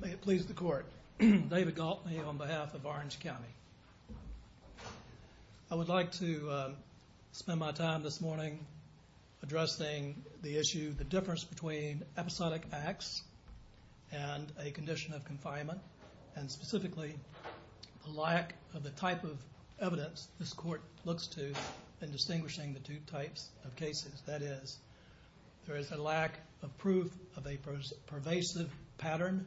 May it please the court, David Galtney on behalf of Orange County. I would like to spend my time this morning addressing the issue the difference between episodic acts and a condition of confinement and specifically the lack of the type of evidence this court looks to in distinguishing the two types of cases that is there is a lack of proof of a pervasive pattern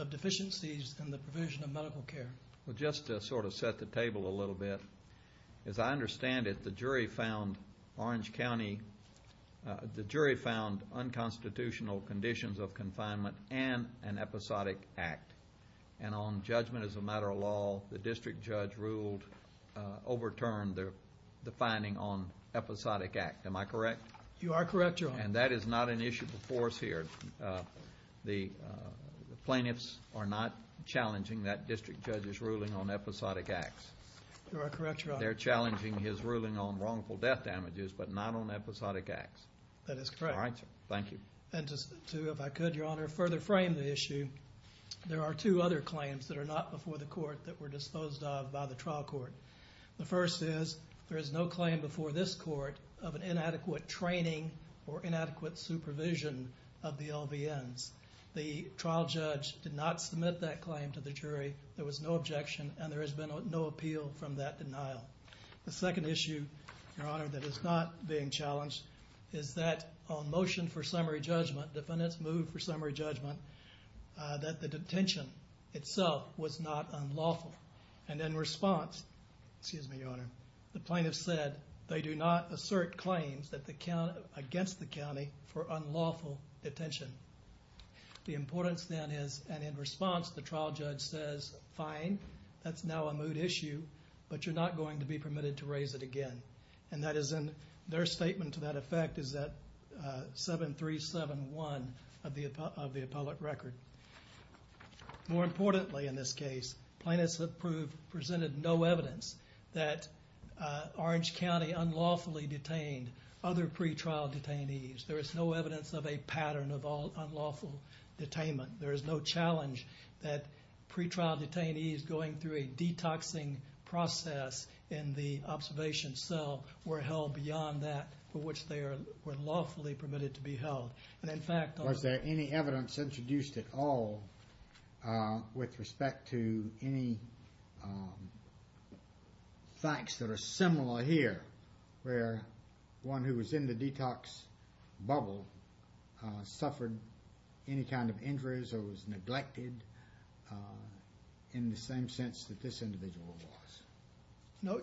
of deficiencies in the provision of medical care. Well just to sort of set the table a little bit as I understand it the jury found Orange County the jury found unconstitutional conditions of confinement and an episodic act and on judgment as a matter of law the district judge ruled overturned the finding on episodic act. Am I correct? You are correct your honor. And that is not an issue before us here. The plaintiffs are not challenging that district judge's ruling on episodic acts. You are correct your honor. They're challenging his ruling on wrongful death damages but not on episodic acts. That is correct. Thank you. And just to if I could your honor further frame the issue there are two other claims that are not before the court that were disposed of by the trial court. The first is there is no claim before this court of an inadequate training or inadequate supervision of the LVNs. The trial judge did not submit that claim to the jury. There was no objection and there has been no appeal from that denial. The second issue your honor that is not being challenged is that on motion for summary judgment defendants moved for summary judgment that the detention itself was not unlawful and in response excuse me your honor the plaintiffs said they do not assert claims against the county for unlawful detention. The importance then is and in response the trial judge says fine that's now a moot issue but you're not going to be permitted to raise it again. And that is in their statement to that effect is that 7371 of the appellate record. More importantly in this case plaintiffs have presented no evidence that Orange County unlawfully detained other pre-trial detainees. There is no evidence of a pattern of unlawful detainment. There is no challenge that pre-trial detainees going through a detoxing process in the observation cell were held beyond that for which they were lawfully permitted to be held. And in fact was there any evidence introduced at all with respect to any facts that are similar here where one who was in the detox bubble suffered any kind of injuries or was neglected in the same sense that this individual was. No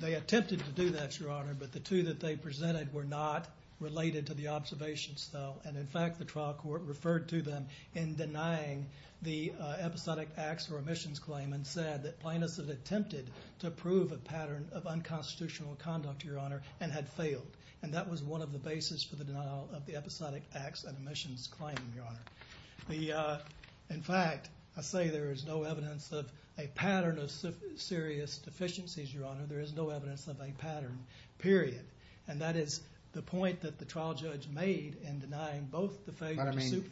they attempted to do that your honor but the two that they presented were not related to the observations though and in fact the trial court referred to them in denying the episodic acts or omissions claim and said that plaintiffs had attempted to prove a pattern of unconstitutional conduct your honor and had failed and that was one of the basis for the denial of the episodic acts and omissions claim your honor. In fact I say there is no evidence of a pattern of serious deficiencies your honor there is no evidence of a pattern period and that is the point that the trial judge made in denying both the failure to supervise.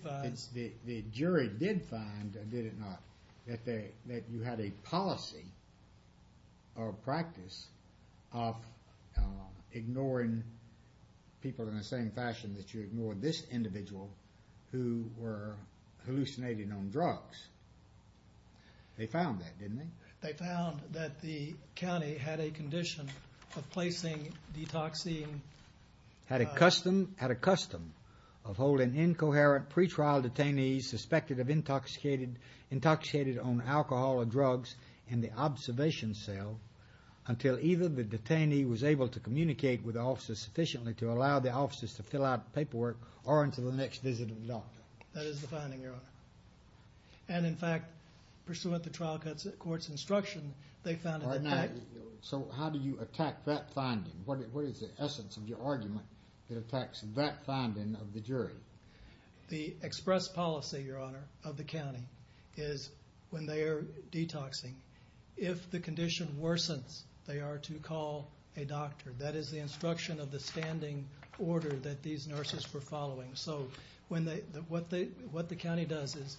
But I mean the jury did find did it not that they that you had a policy or practice of ignoring people in the same fashion that you ignored this individual who were hallucinating on drugs. They found that didn't they? They found that the county had a condition of placing detoxing. Had a custom had a custom of holding in coherent pre-trial detainees suspected of intoxicated intoxicated on alcohol or drugs in the observation cell until either the detainee was able to communicate with the officers sufficiently to allow the officers to fill out paperwork or until the next visit of the doctor. That is the finding your honor and in fact pursuant to trial courts instruction they found that. So how do you attack that finding? What is the essence of your argument that attacks that finding of the jury? The express policy your honor of the county is when they are detoxing if the condition worsens they are to call a doctor that is the instruction of the standing order that these nurses were following so when they what they what the county does is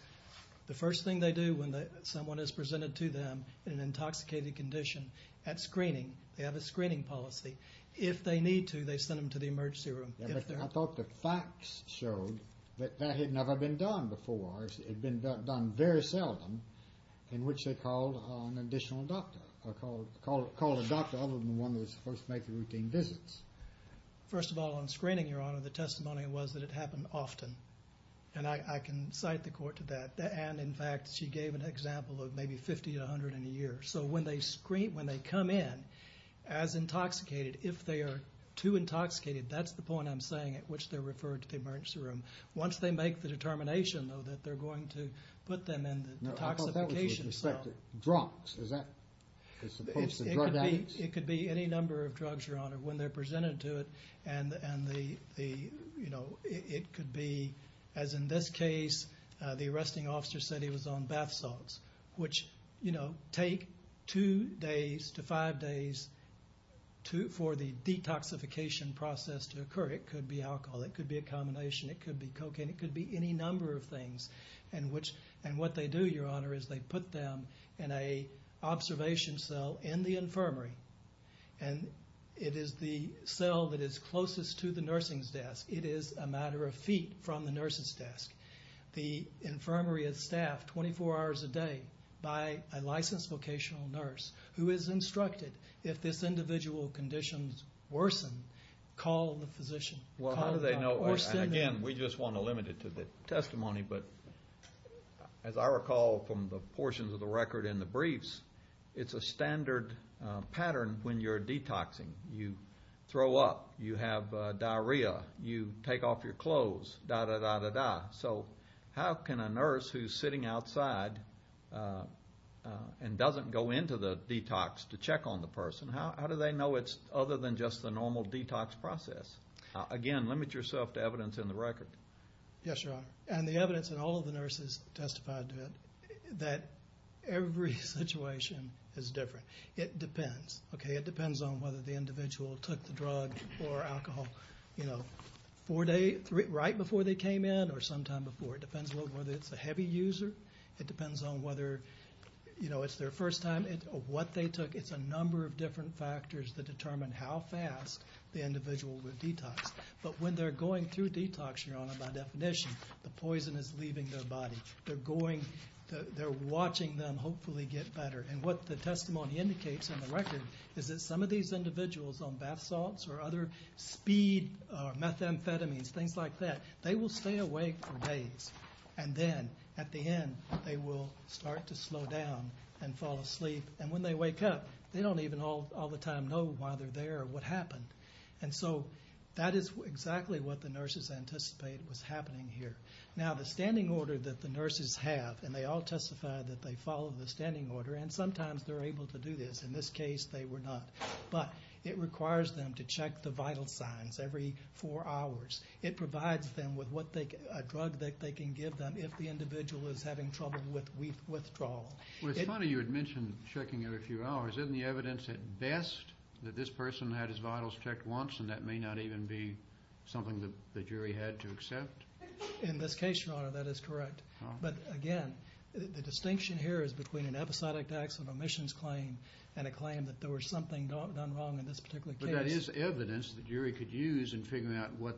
the first thing they do when someone is presented to them in an intoxicated condition at screening they have a screening policy. If they need to they send them to the emergency room. I thought the facts showed that that had never been done before. It had been done very seldom in which they called an additional doctor or called a doctor other than one that was supposed to make the routine visits. First of all on screening your honor the testimony was that it happened often and I can cite the court to that and in fact she gave an example of maybe fifty to a hundred in a year so when they come in as intoxicated if they are too intoxicated that's the point I'm making. I'm saying at which they're referred to the emergency room. Once they make the determination that they're going to put them in the detoxification cell. I thought that was with respect to drugs is that supposed to drug addicts? It could be any number of drugs your honor when they're presented to it and the you know it could be as in this case the arresting officer said he was on bath salts which you know take two days to five days to for the detoxification process to occur it could be alcohol it could be a combination it could be cocaine it could be any number of things and which and what they do your honor is they put them in a observation cell in the infirmary and it is the cell that is closest to the nursing's desk. It is a matter of feet from the nurses desk. The infirmary is staffed twenty four hours a day by a licensed vocational nurse who is instructed if this individual conditions worsen call the physician. Well how do they know? Again we just want to limit it to the testimony but as I recall from the portions of the record in the briefs it's a standard pattern when you're detoxing you throw up you have diarrhea you take off your clothes da da da da da so how can a nurse who's sitting outside and doesn't go into the detox to check on the person how do they know it's other than just the normal detox process? Again limit yourself to evidence in the record. Yes your honor and the evidence in all of the nurses testified to it that every situation is different it depends okay it depends on whether the individual took the drug or alcohol you know four days right before they came in or sometime before it depends on whether it's a heavy user it depends on whether you know it's their first time or what they took it's a number of different factors that determine how fast the individual would detox. But when they're going through detox your honor by definition the poison is leaving their body they're going they're watching them hopefully get better and what the testimony indicates in the record is that some of these individuals on bath salts or other speed methamphetamines things like that they will stay awake for days and then at the end they will start to slow down and fall asleep and when they wake up they don't even all the time know why they're there or what happened. And so that is exactly what the nurses anticipate was happening here now the standing order that the nurses have and they all testified that they follow the standing order and sometimes they're able to do this in this case they were not but it requires them to check the vital signs every four hours it provides them with what they drug that they can give them if the individual is having trouble with withdrawal. It's funny you had mentioned checking every few hours isn't the evidence at best that this person had his vitals checked once and that may not even be something that the jury had to accept. In this case your honor that is correct but again the distinction here is between an episodic accident omissions claim and a claim that there was something done wrong in this particular case. That is evidence the jury could use in figuring out what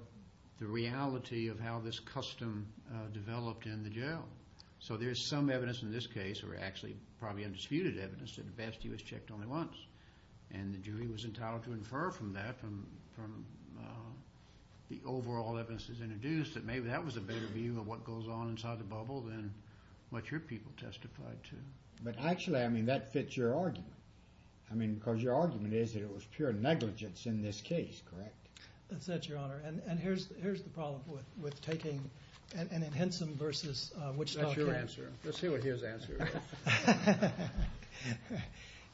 the reality of how this custom developed in the jail. So there's some evidence in this case or actually probably undisputed evidence that at best he was checked only once and the jury was entitled to infer from that from the overall evidence is introduced that maybe that was a better view of what goes on inside the bubble than what your people testified to. But actually I mean that fits your argument. I mean because your argument is it was pure negligence in this case correct. That's it your honor and here's the problem with taking and in Henson versus Wichita. That's your answer let's see what his answer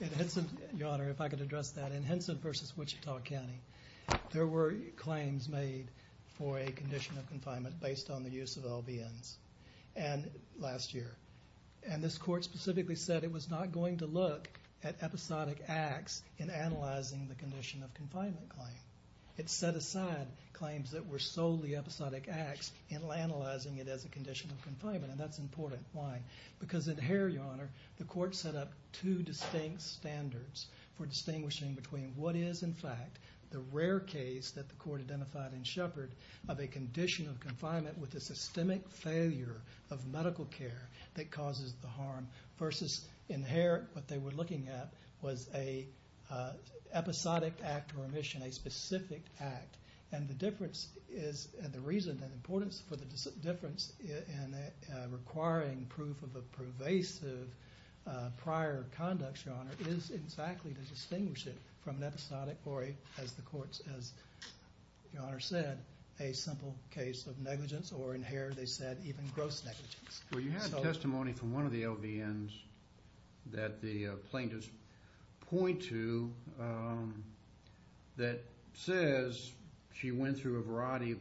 is. Your honor if I could address that in Henson versus Wichita County. There were claims made for a condition of confinement based on the use of LBNs and last year. And this court specifically said it was not going to look at episodic acts in analyzing the condition of confinement claim. It set aside claims that were solely episodic acts in analyzing it as a condition of confinement and that's important. Why? Because in Hare your honor the court set up two distinct standards for distinguishing between what is in fact the rare case that the court identified in Shepard of a condition of confinement with a systemic failure of medical care that causes the harm versus in Hare what they were looking at was a episodic act or omission a specific act. And the difference is and the reason and importance for the difference in requiring proof of a pervasive prior conduct your honor is exactly to distinguish it from an episodic or as the courts as your honor said a simple case of negligence or in Hare they said even gross negligence. Well you have testimony from one of the LBNs that the plaintiffs point to that says she went through a variety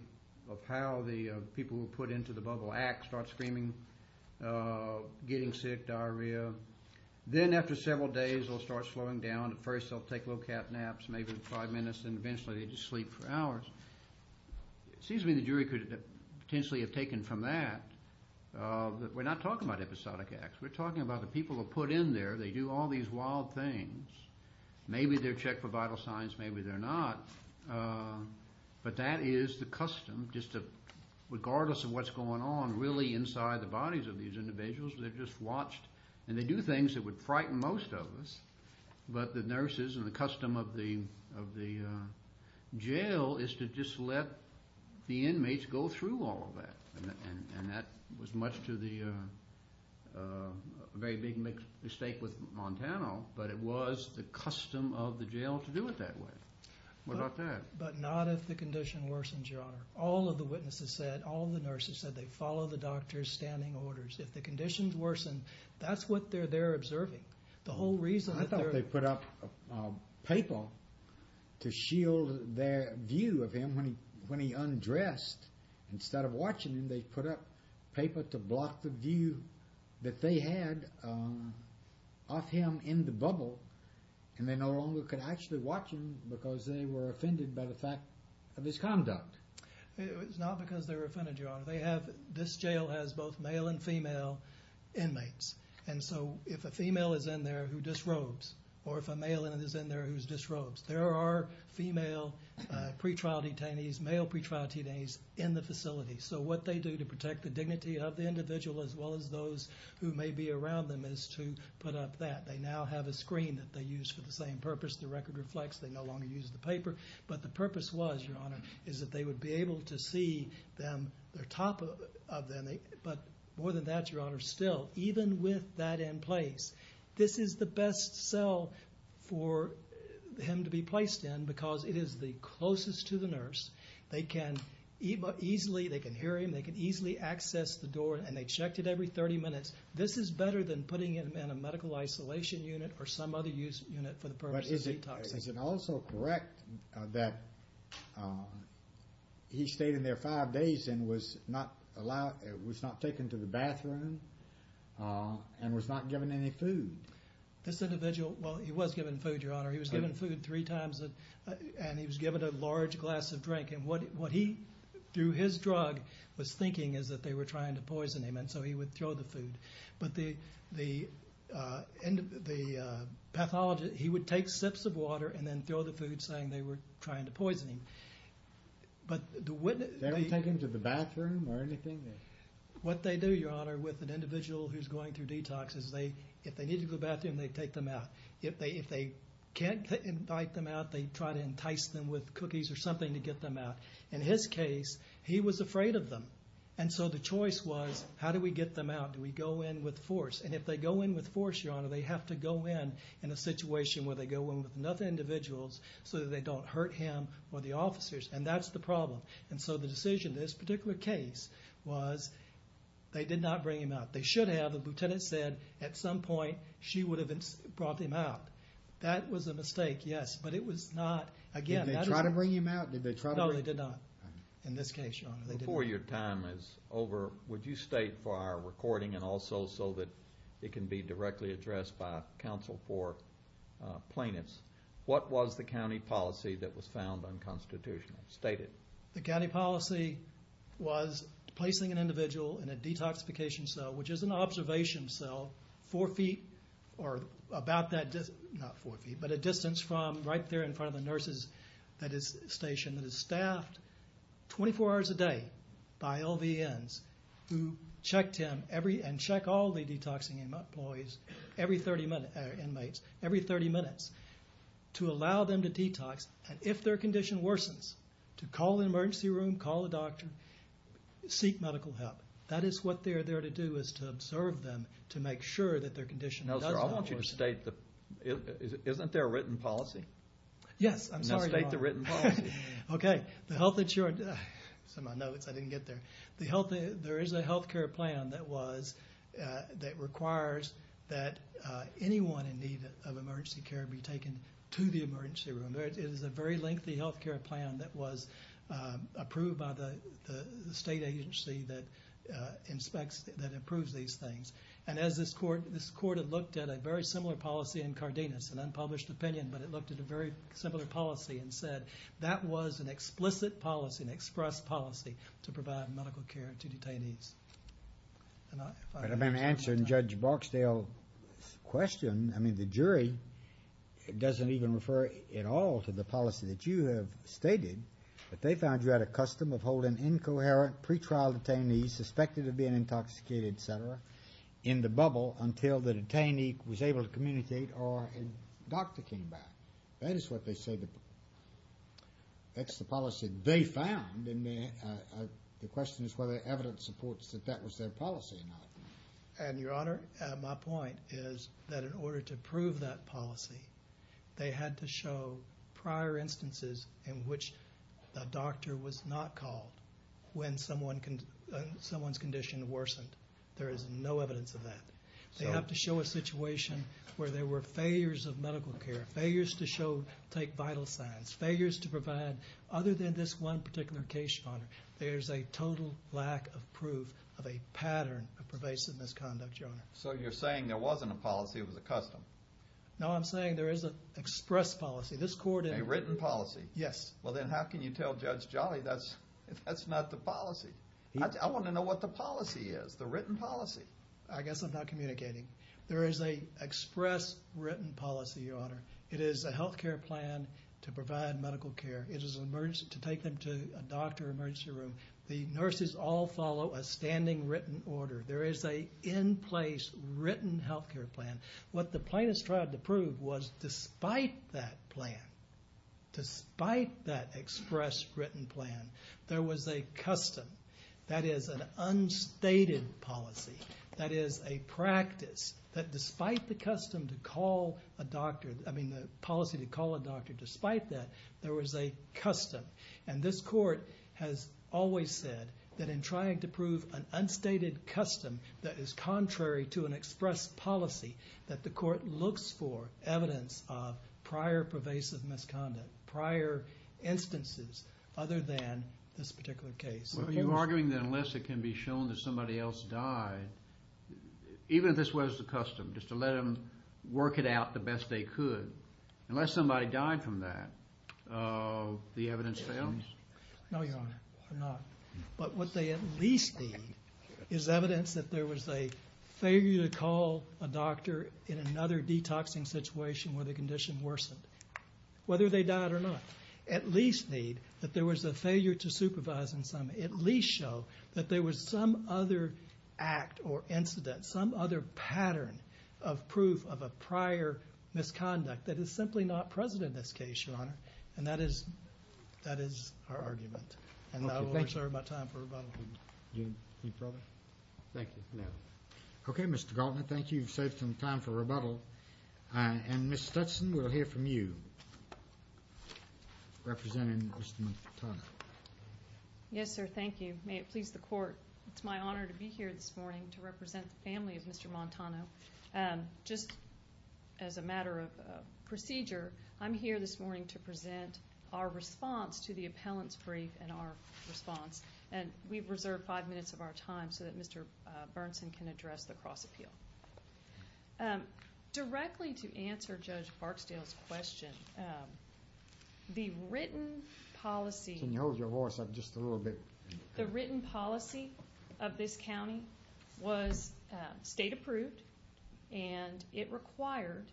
of how the people who were put into the bubble act start screaming, getting sick, diarrhea. Then after several days they'll start slowing down. At first they'll take low cap naps maybe five minutes and eventually they just sleep for hours. It seems to me the jury could potentially have taken from that that we're not talking about episodic acts. We're talking about the people who are put in there. They do all these wild things. Maybe they're checked for vital signs. Maybe they're not. But that is the custom just to regardless of what's going on really inside the bodies of these individuals they're just watched and they do things that would frighten most of us. But the nurses and the custom of the jail is to just let the inmates go through all of that. And that was much to the very big mistake with Montana but it was the custom of the jail to do it that way. What about that? But not if the condition worsens your honor. All of the witnesses said all the nurses said they follow the doctor's standing orders. If the conditions worsen that's what they're there observing. The whole reason. I thought they put up paper to shield their view of him when he undressed. Instead of watching him they put up paper to block the view that they had of him in the bubble. And they no longer could actually watch him because they were offended by the fact of his conduct. It was not because they were offended your honor. They have this jail has both male and female inmates. And so if a female is in there who disrobes or if a male is in there who disrobes. There are female pretrial detainees male pretrial detainees in the facility. So what they do to protect the dignity of the individual as well as those who may be around them is to put up that. They now have a screen that they use for the same purpose. The record reflects they no longer use the paper. But the purpose was your honor is that they would be able to see them their top of them. But more than that your honor still even with that in place. This is the best cell for him to be placed in because it is the closest to the nurse. They can easily they can hear him they can easily access the door and they checked it every 30 minutes. This is better than putting him in a medical isolation unit or some other use unit for the purpose of detox. Is it also correct that he stayed in there five days and was not allowed it was not taken to the bathroom and was not given any food. This individual well he was given food your honor. He was given food three times and he was given a large glass of drink. And what what he do his drug was thinking is that they were trying to poison him and so he would throw the food. But the end of the pathology he would take sips of water and then throw the food saying they were trying to poison him. But the witness they take him to the bathroom or anything. What they do your honor with an individual who's going through detox is they if they need to go to the bathroom they take them out. If they if they can't invite them out they try to entice them with cookies or something to get them out. In his case he was afraid of them. And so the choice was how do we get them out. Do we go in with force. And if they go in with force your honor they have to go in in a situation where they go in with another individuals so that they don't hurt him or the officers. And that's the problem. And so the decision this particular case was they did not bring him out. They should have. The lieutenant said at some point she would have brought him out. That was a mistake. Yes. But it was not. Again. Did they try to bring him out. No they did not. In this case your honor. Before your time is over would you state for our recording and also so that it can be directly addressed by counsel for plaintiffs. What was the county policy that was found unconstitutional. State it. The county policy was placing an individual in a detoxification cell which is an observation cell four feet or about that distance. Not four feet but a distance from right there in front of the nurses. That is a station that is staffed 24 hours a day by LVNs who checked him every and check all the detoxing employees every 30 minutes inmates every 30 minutes to allow them to detox. And if their condition worsens to call the emergency room call a doctor. Seek medical help. That is what they are there to do is to observe them to make sure that their condition. No sir. I want you to state the. Isn't there a written policy. Yes. I'm sorry. State the written. OK. The health insured. Some of my notes I didn't get there. The health. There is a health care plan that was that requires that anyone in need of emergency care be taken to the emergency room. It is a very lengthy health care plan that was approved by the state agency that inspects that improves these things. And as this court this court had looked at a very similar policy in Cardenas an unpublished opinion. But it looked at a very similar policy and said that was an explicit policy and express policy to provide medical care to detainees. And I've been answering Judge Barksdale question. I mean the jury doesn't even refer at all to the policy that you have stated. But they found you had a custom of holding incoherent pretrial detainees suspected of being intoxicated etc. In the bubble until the detainee was able to communicate or a doctor came back. That is what they say. That's the policy they found. And the question is whether evidence supports that that was their policy or not. And your honor my point is that in order to prove that policy. They had to show prior instances in which the doctor was not called when someone can someone's condition worsened. There is no evidence of that. They have to show a situation where there were failures of medical care failures to show take vital signs failures to provide other than this one particular case. There's a total lack of proof of a pattern of pervasive misconduct. So you're saying there wasn't a policy of the custom. Now I'm saying there is an express policy this court in a written policy. Yes. Well then how can you tell Judge Jolly that's that's not the policy. I want to know what the policy is the written policy. I guess I'm not communicating. There is a express written policy your honor. It is a health care plan to provide medical care. It is an emergency to take them to a doctor emergency room. The nurses all follow a standing written order. There is a in place written health care plan. What the plaintiffs tried to prove was despite that plan. Despite that express written plan. There was a custom that is an unstated policy. That is a practice that despite the custom to call a doctor. I mean the policy to call a doctor despite that there was a custom. And this court has always said that in trying to prove an unstated custom. That is contrary to an express policy that the court looks for evidence of prior pervasive misconduct. Prior instances other than this particular case. Are you arguing that unless it can be shown that somebody else died. Even if this was the custom just to let them work it out the best they could. Unless somebody died from that. The evidence fails. No your honor I'm not. But what they at least need is evidence that there was a failure to call a doctor. In another detoxing situation where the condition worsened. Whether they died or not. At least need that there was a failure to supervise in some. At least show that there was some other act or incident. Some other pattern of proof of a prior misconduct. That is simply not present in this case your honor. And that is. That is our argument. And I will reserve my time for rebuttal. Thank you. Okay Mr. Galtner thank you. You've saved some time for rebuttal. And Ms. Stetson we'll hear from you. Representing Mr. McDonough. Yes sir thank you. May it please the court. It's my honor to be here this morning to represent the family of Mr. Montano. Just as a matter of procedure. I'm here this morning to present our response to the appellant's brief and our response. And we've reserved five minutes of our time so that Mr. Bernson can address the cross appeal. Directly to answer Judge Barksdale's question. The written policy. Can you hold your voice up just a little bit. The written policy of this county was state approved. And it required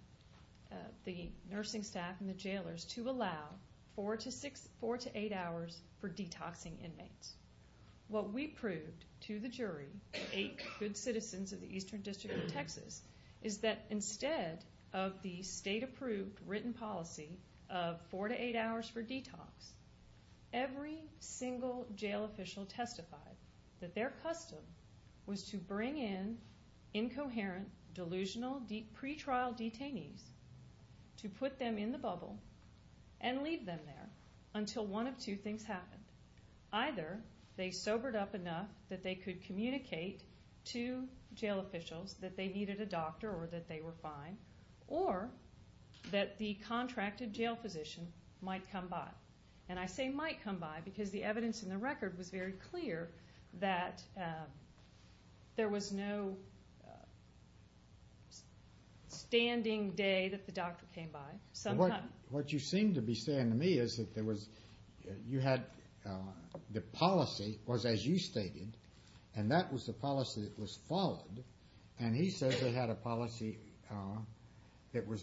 the nursing staff and the jailers to allow four to eight hours for detoxing inmates. What we proved to the jury. Eight good citizens of the Eastern District of Texas. Is that instead of the state approved written policy of four to eight hours for detox. Every single jail official testified. That their custom was to bring in incoherent delusional pretrial detainees. To put them in the bubble. And leave them there. Until one of two things happened. Either they sobered up enough that they could communicate to jail officials that they needed a doctor or that they were fine. Or that the contracted jail physician might come by. And I say might come by because the evidence in the record was very clear. That there was no standing day that the doctor came by. What you seem to be saying to me is that the policy was as you stated. And that was the policy that was followed. And he said they had a policy that was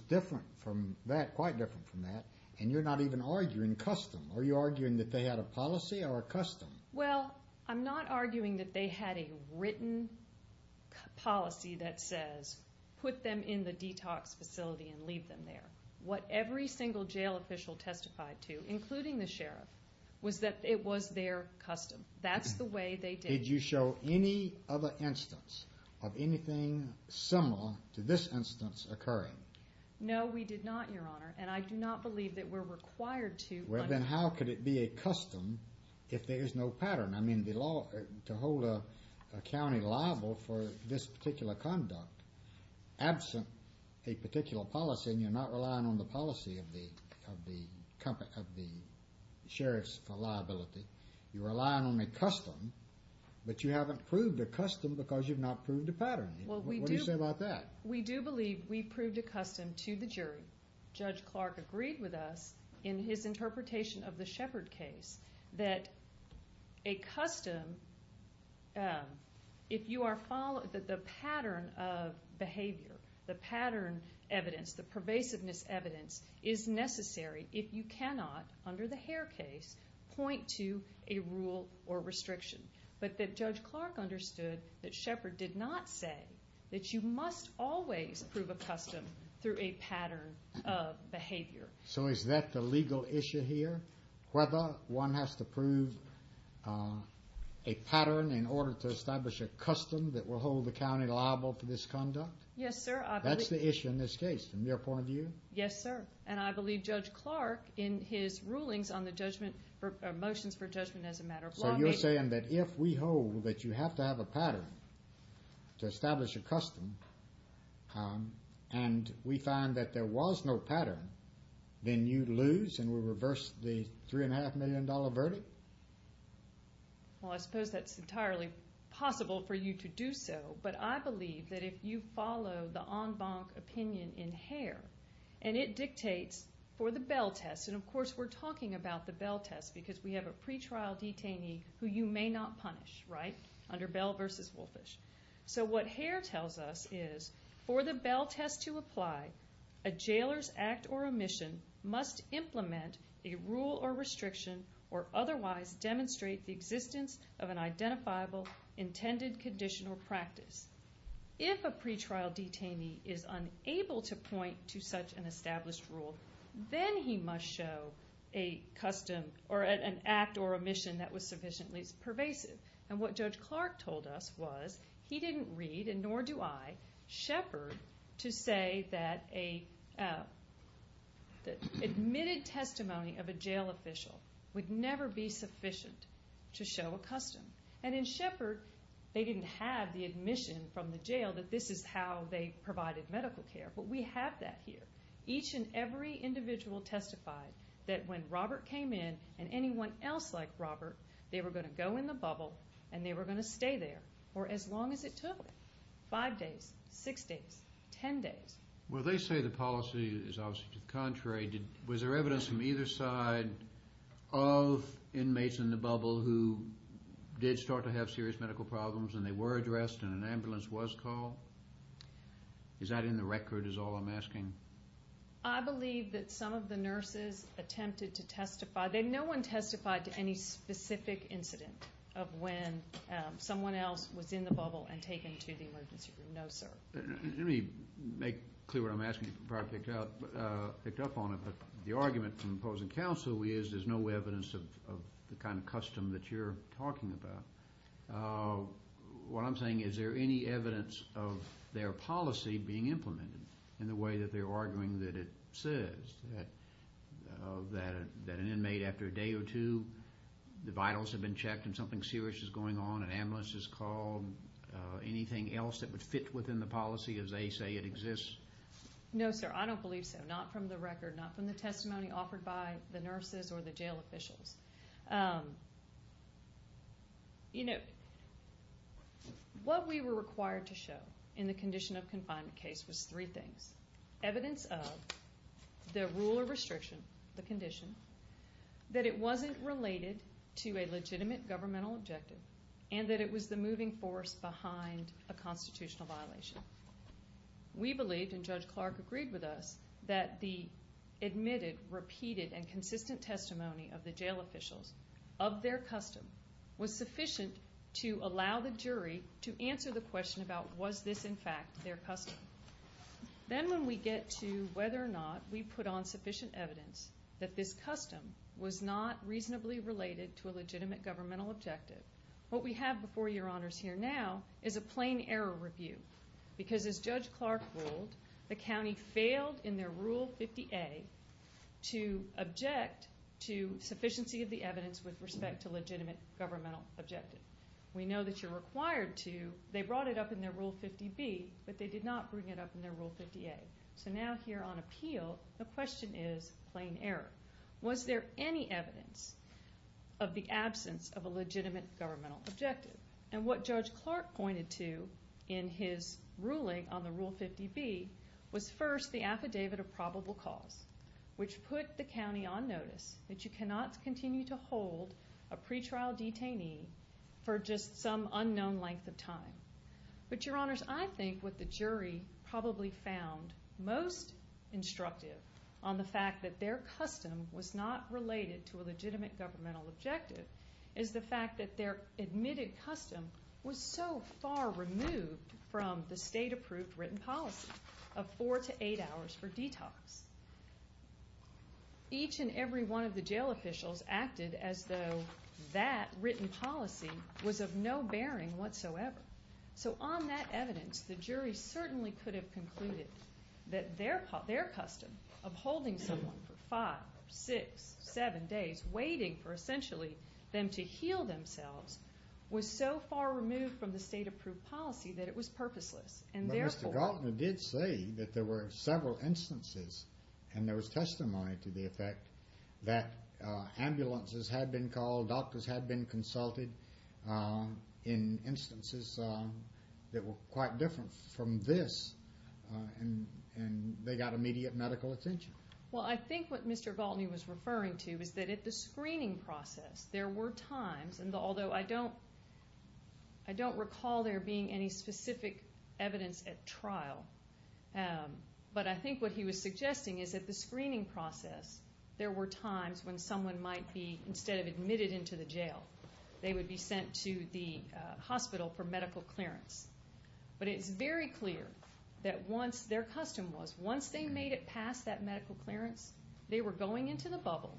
quite different from that. And you're not even arguing custom. Are you arguing that they had a policy or a custom? Well, I'm not arguing that they had a written policy that says put them in the detox facility and leave them there. What every single jail official testified to, including the sheriff, was that it was their custom. That's the way they did it. Did you show any other instance of anything similar to this instance occurring? No, we did not, Your Honor. And I do not believe that we're required to. Well, then how could it be a custom if there is no pattern? I mean, to hold a county liable for this particular conduct, absent a particular policy, and you're not relying on the policy of the sheriffs for liability. You're relying on a custom. But you haven't proved a custom because you've not proved a pattern. What do you say about that? We do believe we proved a custom to the jury. Judge Clark agreed with us in his interpretation of the Shepard case that a custom, if you are following the pattern of behavior, the pattern evidence, the pervasiveness evidence, is necessary if you cannot, under the Hare case, point to a rule or restriction. But that Judge Clark understood that Shepard did not say that you must always prove a custom through a pattern of behavior. So is that the legal issue here? Whether one has to prove a pattern in order to establish a custom that will hold the county liable for this conduct? Yes, sir. That's the issue in this case, from your point of view? Yes, sir. And I believe Judge Clark, in his rulings on the motions for judgment as a matter of law, you're saying that if we hold that you have to have a pattern to establish a custom and we find that there was no pattern, then you lose and we reverse the $3.5 million verdict? Well, I suppose that's entirely possible for you to do so. But I believe that if you follow the en banc opinion in Hare, and it dictates for the Bell test, and, of course, we're talking about the Bell test because we have a pretrial detainee who you may not punish, right, under Bell v. Woolfish. So what Hare tells us is, for the Bell test to apply, a jailer's act or omission must implement a rule or restriction or otherwise demonstrate the existence of an identifiable intended condition or practice. If a pretrial detainee is unable to point to such an established rule, then he must show a custom or an act or omission that was sufficiently pervasive. And what Judge Clark told us was he didn't read, and nor do I, Shepard to say that an admitted testimony of a jail official would never be sufficient to show a custom. And in Shepard, they didn't have the admission from the jail that this is how they provided medical care. But we have that here. Each and every individual testified that when Robert came in and anyone else like Robert, they were going to go in the bubble and they were going to stay there for as long as it took, five days, six days, ten days. Well, they say the policy is obviously to the contrary. Was there evidence from either side of inmates in the bubble who did start to have serious medical problems and they were addressed and an ambulance was called? Is that in the record is all I'm asking? I believe that some of the nurses attempted to testify. No one testified to any specific incident of when someone else was in the bubble and taken to the emergency room. No, sir. Let me make clear what I'm asking you to pick up on. The argument from opposing counsel is there's no evidence of the kind of custom that you're talking about. What I'm saying is there any evidence of their policy being implemented in the way that they're arguing that it says that an inmate after a day or two, the vitals have been checked and something serious is going on, an ambulance is called, anything else that would fit within the policy as they say it exists? No, sir. I don't believe so, not from the record, not from the testimony offered by the nurses or the jail officials. You know, what we were required to show in the condition of confinement case was three things. Evidence of the rule of restriction, the condition, that it wasn't related to a legitimate governmental objective and that it was the moving force behind a constitutional violation. We believed, and Judge Clark agreed with us, that the admitted, repeated, and consistent testimony of the jail officials of their custom was sufficient to allow the jury to answer the question about was this, in fact, their custom. Then when we get to whether or not we put on sufficient evidence that this custom was not reasonably related to a legitimate governmental objective, what we have before your honors here now is a plain error review because as Judge Clark ruled, the county failed in their Rule 50A to object to sufficiency of the evidence with respect to legitimate governmental objective. We know that you're required to. They brought it up in their Rule 50B, but they did not bring it up in their Rule 50A. So now here on appeal, the question is plain error. Was there any evidence of the absence of a legitimate governmental objective? What Judge Clark pointed to in his ruling on the Rule 50B was first the affidavit of probable cause, which put the county on notice that you cannot continue to hold a pretrial detainee for just some unknown length of time. But your honors, I think what the jury probably found most instructive on the fact that their custom was not related to a legitimate governmental objective is the fact that their admitted custom was so far removed from the state-approved written policy of four to eight hours for detox. Each and every one of the jail officials acted as though that written policy was of no bearing whatsoever. So on that evidence, the jury certainly could have concluded that their custom of holding someone for five, six, seven days, waiting for essentially them to heal themselves, was so far removed from the state-approved policy that it was purposeless. But Mr. Galtner did say that there were several instances and there was testimony to the effect that ambulances had been called, doctors had been consulted in instances that were quite different from this, and they got immediate medical attention. Well, I think what Mr. Galtner was referring to is that at the screening process there were times, and although I don't recall there being any specific evidence at trial, but I think what he was suggesting is that at the screening process there were times when someone might be, instead of admitted into the jail, they would be sent to the hospital for medical clearance. But it's very clear that once their custom was, once they made it past that medical clearance, they were going into the bubble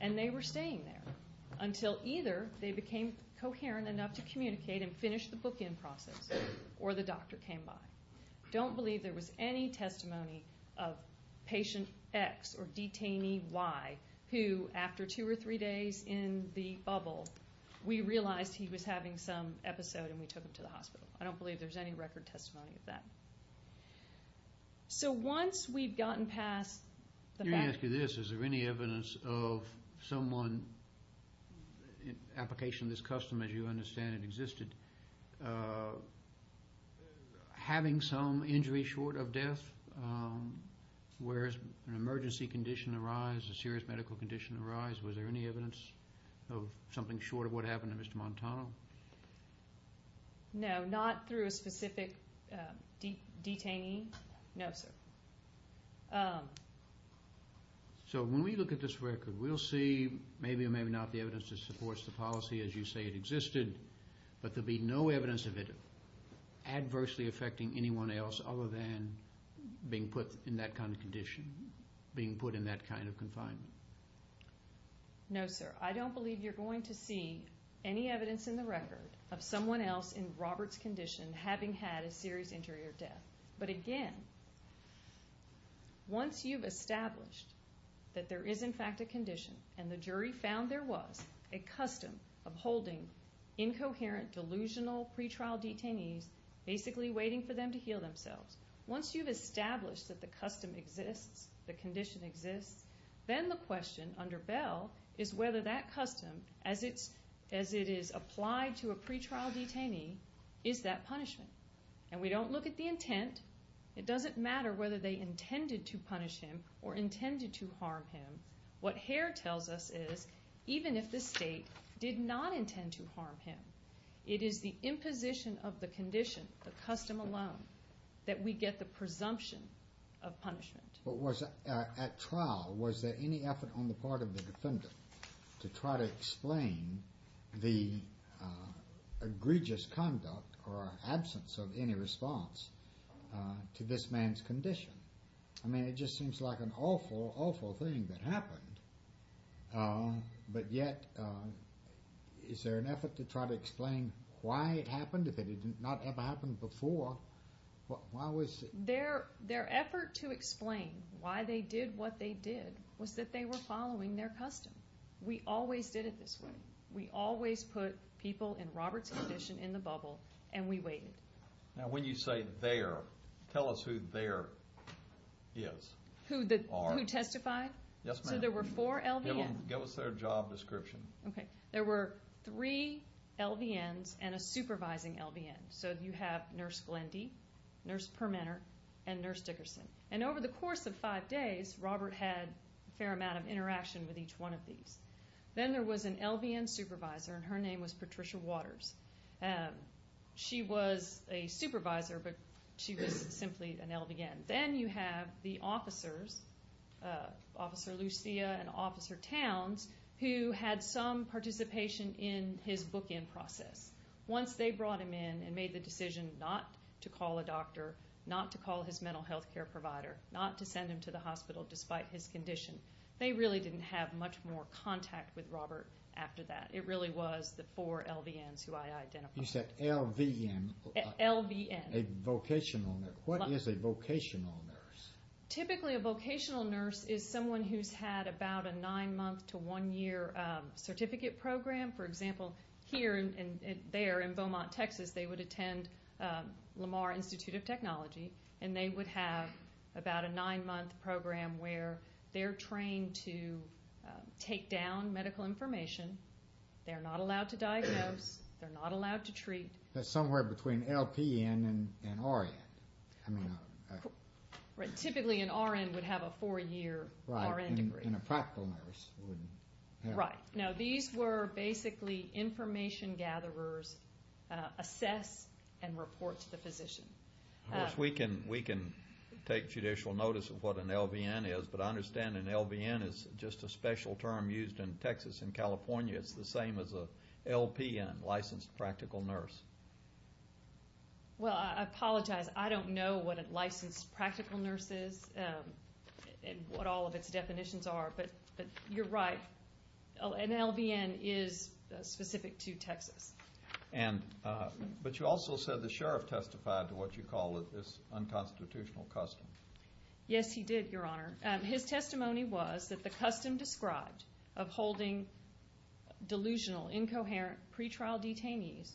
and they were staying there until either they became coherent enough to communicate and finish the bookend process or the doctor came by. I don't believe there was any testimony of patient X or detainee Y who, after two or three days in the bubble, we realized he was having some episode and we took him to the hospital. I don't believe there's any record testimony of that. So once we've gotten past the fact... Let me ask you this. Is there any evidence of someone, application of this custom as you understand it existed, having some injury short of death? Whereas an emergency condition arise, a serious medical condition arise, was there any evidence of something short of what happened to Mr. Montano? No, not through a specific detainee. No, sir. So when we look at this record, we'll see maybe or maybe not the evidence that supports the policy as you say it existed, but there'll be no evidence of it adversely affecting anyone else other than being put in that kind of condition, being put in that kind of confinement. No, sir. I don't believe you're going to see any evidence in the record of someone else in Robert's condition having had a serious injury or death. But again, once you've established that there is in fact a condition and the jury found there was a custom of holding incoherent, delusional pretrial detainees, basically waiting for them to heal themselves, once you've established that the custom exists, the condition exists, then the question under Bell is whether that custom, as it is applied to a pretrial detainee, is that punishment. And we don't look at the intent. It doesn't matter whether they intended to punish him or intended to harm him. What Hare tells us is even if the state did not intend to harm him, it is the imposition of the condition, the custom alone, that we get the presumption of punishment. At trial, was there any effort on the part of the defendant to try to explain the egregious conduct or absence of any response to this man's condition? I mean, it just seems like an awful, awful thing that happened, but yet is there an effort to try to explain why it happened? If it had not ever happened before, why was it? Their effort to explain why they did what they did was that they were following their custom. We always did it this way. We always put people in Robert's condition in the bubble, and we waited. Now when you say there, tell us who there is. Who testified? Yes, ma'am. So there were four LVNs. Give us their job description. Okay. There were three LVNs and a supervising LVN. So you have Nurse Glendy, Nurse Permenter, and Nurse Dickerson. And over the course of five days, Robert had a fair amount of interaction with each one of these. Then there was an LVN supervisor, and her name was Patricia Waters. She was a supervisor, but she was simply an LVN. Then you have the officers, Officer Lucia and Officer Towns, who had some participation in his bookend process. Once they brought him in and made the decision not to call a doctor, not to call his mental health care provider, not to send him to the hospital despite his condition, they really didn't have much more contact with Robert after that. It really was the four LVNs who I identified. You said LVN. LVN. A vocational nurse. What is a vocational nurse? Typically, a vocational nurse is someone who's had about a nine-month to one-year certificate program. For example, here and there in Beaumont, Texas, they would attend Lamar Institute of Technology, and they would have about a nine-month program where they're trained to take down medical information. They're not allowed to diagnose. They're not allowed to treat. That's somewhere between LPN and RN. Typically, an RN would have a four-year RN degree. And a practical nurse would have. Right. Now, these were basically information gatherers assess and report to the physician. Of course, we can take judicial notice of what an LVN is, but I understand an LVN is just a special term used in Texas and California. It's the same as a LPN, licensed practical nurse. Well, I apologize. I don't know what a licensed practical nurse is and what all of its definitions are, but you're right. An LVN is specific to Texas. But you also said the sheriff testified to what you call this unconstitutional custom. Yes, he did, Your Honor. His testimony was that the custom described of holding delusional, incoherent pretrial detainees,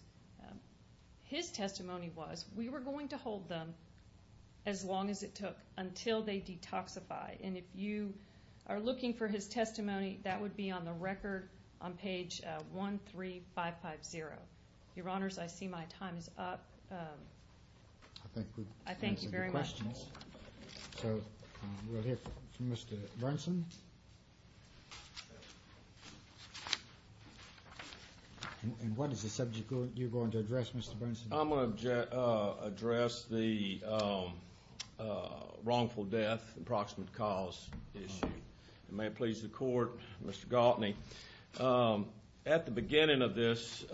his testimony was we were going to hold them as long as it took until they detoxify. And if you are looking for his testimony, that would be on the record on page 13550. Your Honors, I see my time is up. I think we've answered your questions. So we'll hear from Mr. Brunson. And what is the subject you're going to address, Mr. Brunson? I'm going to address the wrongful death, approximate cause issue. And may it please the Court, Mr. Galtney, at the beginning of this,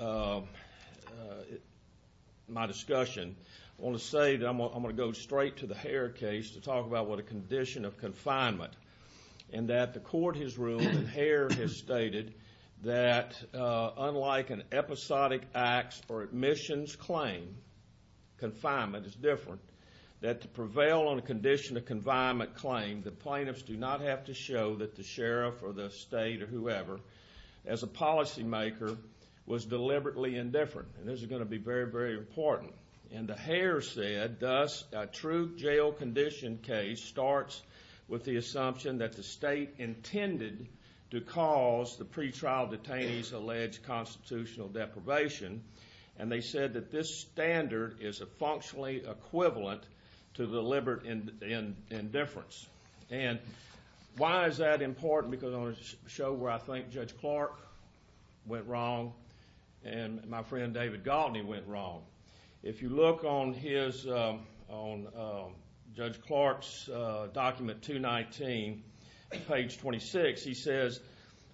my discussion, I want to say that I'm going to go straight to the Hare case to talk about what a condition of confinement. And that the Court has ruled and Hare has stated that unlike an episodic acts or admissions claim, confinement is different, that to prevail on a condition of confinement claim, the plaintiffs do not have to show that the sheriff or the state or whoever, as a policymaker, was deliberately indifferent. And this is going to be very, very important. And the Hare said, thus, a true jail condition case starts with the assumption that the state intended to cause the pretrial detainees alleged constitutional deprivation. And they said that this standard is a functionally equivalent to deliberate indifference. And why is that important? Because on a show where I think Judge Clark went wrong and my friend David Galtney went wrong, if you look on Judge Clark's document 219, page 26, he says,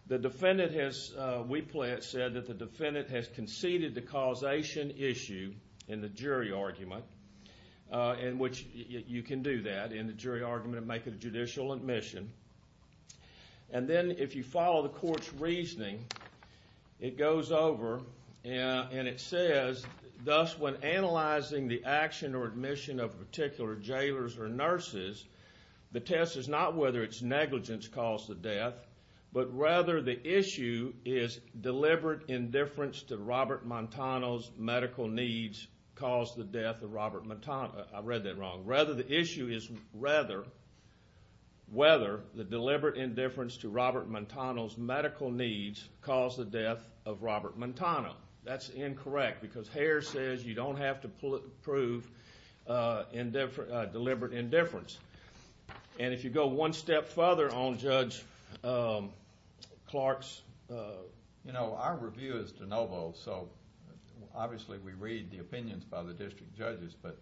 the defendant has, we play it, said that the defendant has conceded the causation issue in the jury argument, in which you can do that in the jury argument and make it a judicial admission. And then if you follow the Court's reasoning, it goes over and it says, thus, when analyzing the action or admission of particular jailers or nurses, the test is not whether its negligence caused the death, but rather the issue is deliberate indifference to Robert Montano's medical needs caused the death of Robert Montano. I read that wrong. Rather the issue is whether the deliberate indifference to Robert Montano's medical needs caused the death of Robert Montano. That's incorrect because Hare says you don't have to prove deliberate indifference. And if you go one step further on Judge Clark's. You know, our review is de novo, so obviously we read the opinions by the district judges, but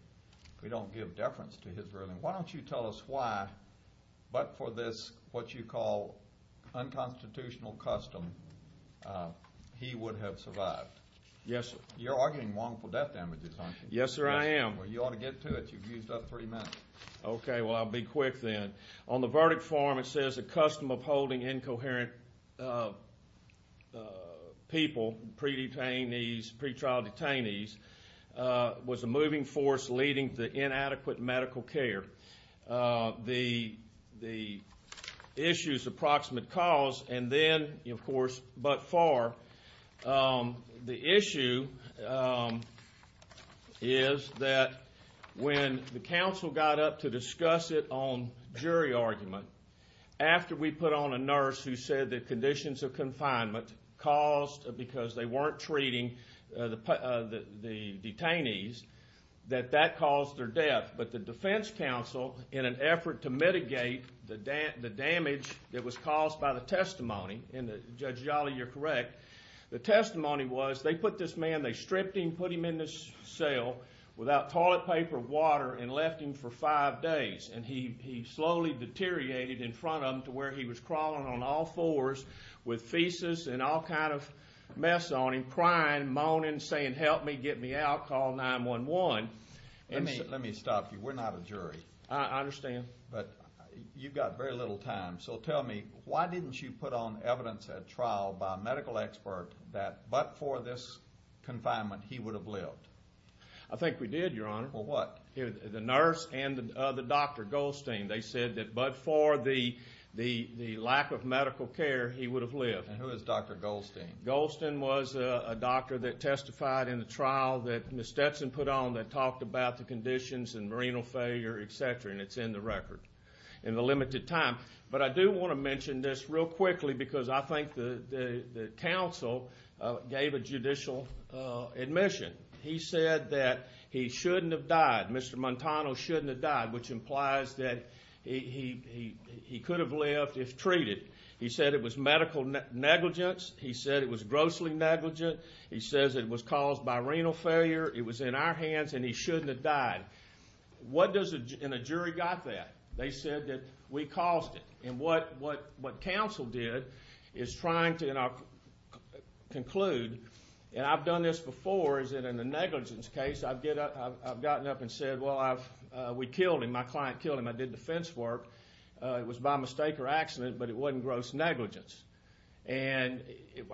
we don't give deference to his ruling. Why don't you tell us why, but for this, what you call unconstitutional custom, he would have survived. Yes, sir. You're arguing wrongful death damages, aren't you? Yes, sir, I am. Well, you ought to get to it. You've used up three minutes. Okay. Well, I'll be quick then. On the verdict form it says a custom of holding incoherent people, pre-detainees, pretrial detainees, was a moving force leading to inadequate medical care. The issue is approximate cause, and then, of course, but far. The issue is that when the counsel got up to discuss it on jury argument, after we put on a nurse who said that conditions of confinement caused, because they weren't treating the detainees, that that caused their death. But the defense counsel, in an effort to mitigate the damage that was caused by the testimony, and Judge Jolly, you're correct, the testimony was they put this man, they stripped him, put him in this cell without toilet paper, water, and left him for five days. And he slowly deteriorated in front of them to where he was crawling on all fours with feces and all kind of mess on him, crying, moaning, saying, help me, get me out, call 911. Let me stop you. We're not a jury. I understand. But you've got very little time. So tell me, why didn't you put on evidence at trial by a medical expert that, but for this confinement, he would have lived? I think we did, Your Honor. Well, what? The nurse and the doctor, Goldstein. They said that but for the lack of medical care, he would have lived. And who is Dr. Goldstein? Goldstein was a doctor that testified in the trial that Ms. Stetson put on that talked about the conditions and renal failure, et cetera, and it's in the record in the limited time. But I do want to mention this real quickly because I think the counsel gave a judicial admission. He said that he shouldn't have died, Mr. Montano shouldn't have died, which implies that he could have lived if treated. He said it was medical negligence. He said it was grossly negligent. He says it was caused by renal failure. It was in our hands and he shouldn't have died. What does a jury got there? They said that we caused it. And what counsel did is trying to conclude, and I've done this before, is that in a negligence case I've gotten up and said, well, we killed him. My client killed him. I did defense work. It was by mistake or accident, but it wasn't gross negligence. And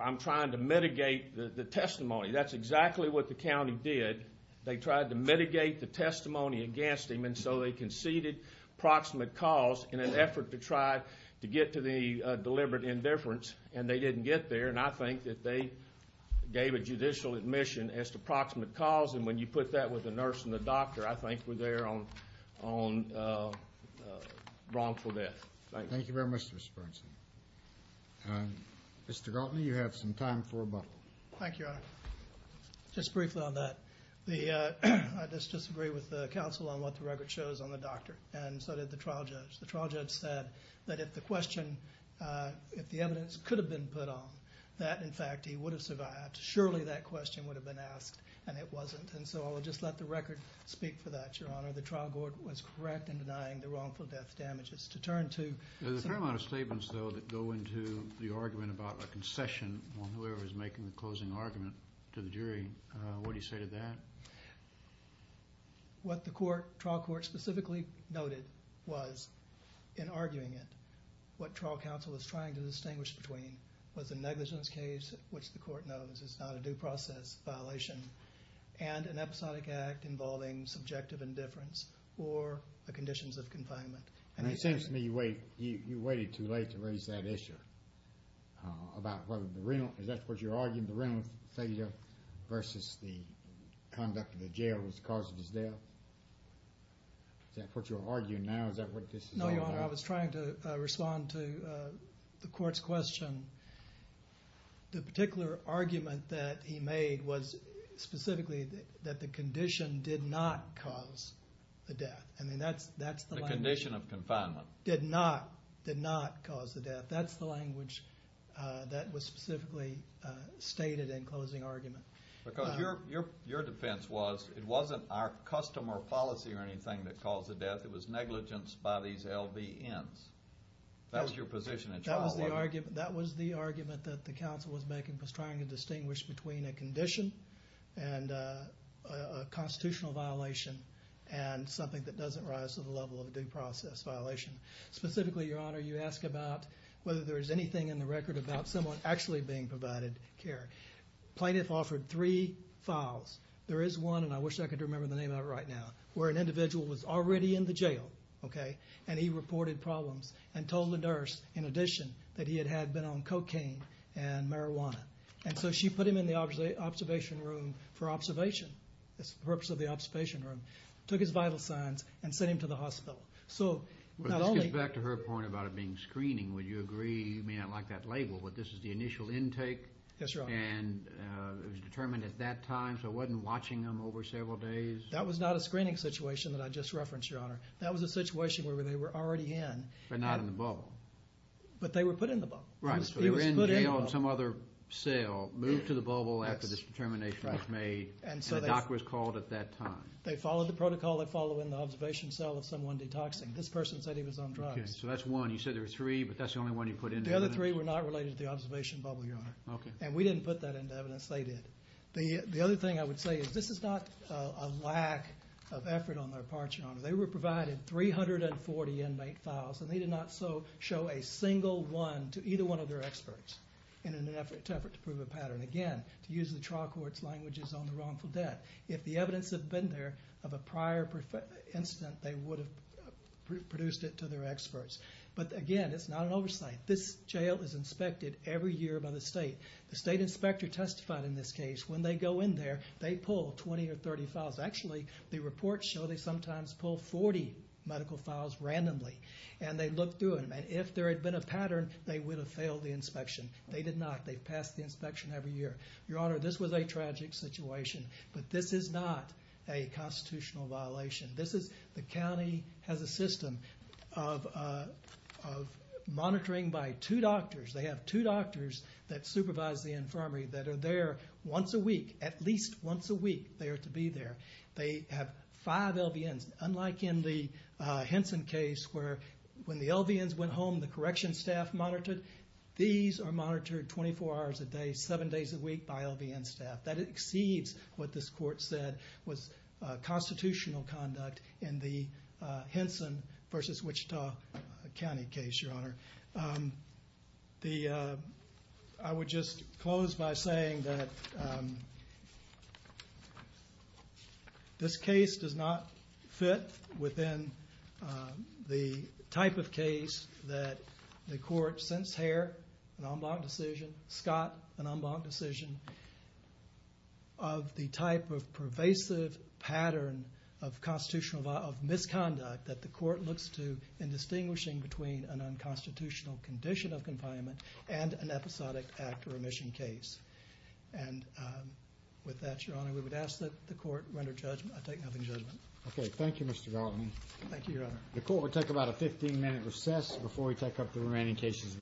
I'm trying to mitigate the testimony. That's exactly what the county did. They tried to mitigate the testimony against him, and so they conceded proximate cause in an effort to try to get to the deliberate indifference, and they didn't get there. And I think that they gave a judicial admission as to proximate cause, and when you put that with the nurse and the doctor, I think we're there on wrongful death. Thank you. Thank you very much, Mr. Bernstein. Mr. Galtney, you have some time for rebuttal. Thank you, Your Honor. Just briefly on that, I just disagree with the counsel on what the record shows on the doctor, and so did the trial judge. The trial judge said that if the question, if the evidence could have been put on, that, in fact, he would have survived. Surely that question would have been asked, and it wasn't. And so I'll just let the record speak for that, Your Honor. The trial court was correct in denying the wrongful death damages. There's a fair amount of statements, though, that go into the argument about a concession on whoever is making the closing argument to the jury. What do you say to that? What the trial court specifically noted was, in arguing it, what trial counsel is trying to distinguish between was a negligence case, which the court knows is not a due process violation, and an episodic act involving subjective indifference or the conditions of confinement. It seems to me you waited too late to raise that issue, about whether the renal, is that what you're arguing, the renal failure versus the conduct of the jail was the cause of his death? Is that what you're arguing now? Is that what this is all about? No, Your Honor, I was trying to respond to the court's question. The particular argument that he made was specifically that the condition did not cause the death. I mean, that's the language. The condition of confinement. Did not, did not cause the death. That's the language that was specifically stated in closing argument. Because your defense was it wasn't our custom or policy or anything that caused the death. It was negligence by these LVNs. That was your position in trial, wasn't it? That was the argument that the counsel was making, was trying to distinguish between a condition and a constitutional violation and something that doesn't rise to the level of a due process violation. Specifically, Your Honor, you ask about whether there is anything in the record about someone actually being provided care. Plaintiff offered three files. There is one, and I wish I could remember the name of it right now, where an individual was already in the jail, okay, and he reported problems and told the nurse, in addition, that he had been on cocaine and marijuana. And so she put him in the observation room for observation. It's the purpose of the observation room. Took his vital signs and sent him to the hospital. So not only... But this gets back to her point about it being screening. Would you agree, I mean, I like that label, but this is the initial intake? Yes, Your Honor. And it was determined at that time, so it wasn't watching him over several days? That was not a screening situation that I just referenced, Your Honor. That was a situation where they were already in. But not in the bubble. But they were put in the bubble. Right, so they were in jail in some other cell, moved to the bubble after this determination was made. And the doctor was called at that time. They followed the protocol. They followed in the observation cell of someone detoxing. This person said he was on drugs. Okay, so that's one. You said there were three, but that's the only one you put in? The other three were not related to the observation bubble, Your Honor. Okay. And we didn't put that into evidence. They did. The other thing I would say is this is not a lack of effort on their part, Your Honor. They were provided 340 inmate files, and they did not show a single one to either one of their experts in an effort to prove a pattern. Again, to use the trial court's languages on the wrongful death, if the evidence had been there of a prior incident, they would have produced it to their experts. But again, it's not an oversight. This jail is inspected every year by the state. The state inspector testified in this case. When they go in there, they pull 20 or 30 files. Actually, the reports show they sometimes pull 40 medical files randomly, and they look through them. And if there had been a pattern, they would have failed the inspection. They did not. They passed the inspection every year. Your Honor, this was a tragic situation. But this is not a constitutional violation. The county has a system of monitoring by two doctors. They have two doctors that supervise the infirmary that are there once a week, at least once a week they are to be there. They have five LVNs. Unlike in the Henson case where when the LVNs went home, the correction staff monitored, these are monitored 24 hours a day, seven days a week by LVN staff. That exceeds what this court said was constitutional conduct in the Henson versus Wichita County case, Your Honor. I would just close by saying that this case does not fit within the type of case that the court, since Hare, an en banc decision, Scott, an en banc decision, of the type of pervasive pattern of misconduct that the court looks to in distinguishing between an unconstitutional condition of confinement and an episodic act or remission case. And with that, Your Honor, we would ask that the court render judgment. I take nothing in judgment. Okay. Thank you, Mr. Galton. Thank you, Your Honor. The court will take about a 15-minute recess before we take up the remaining cases.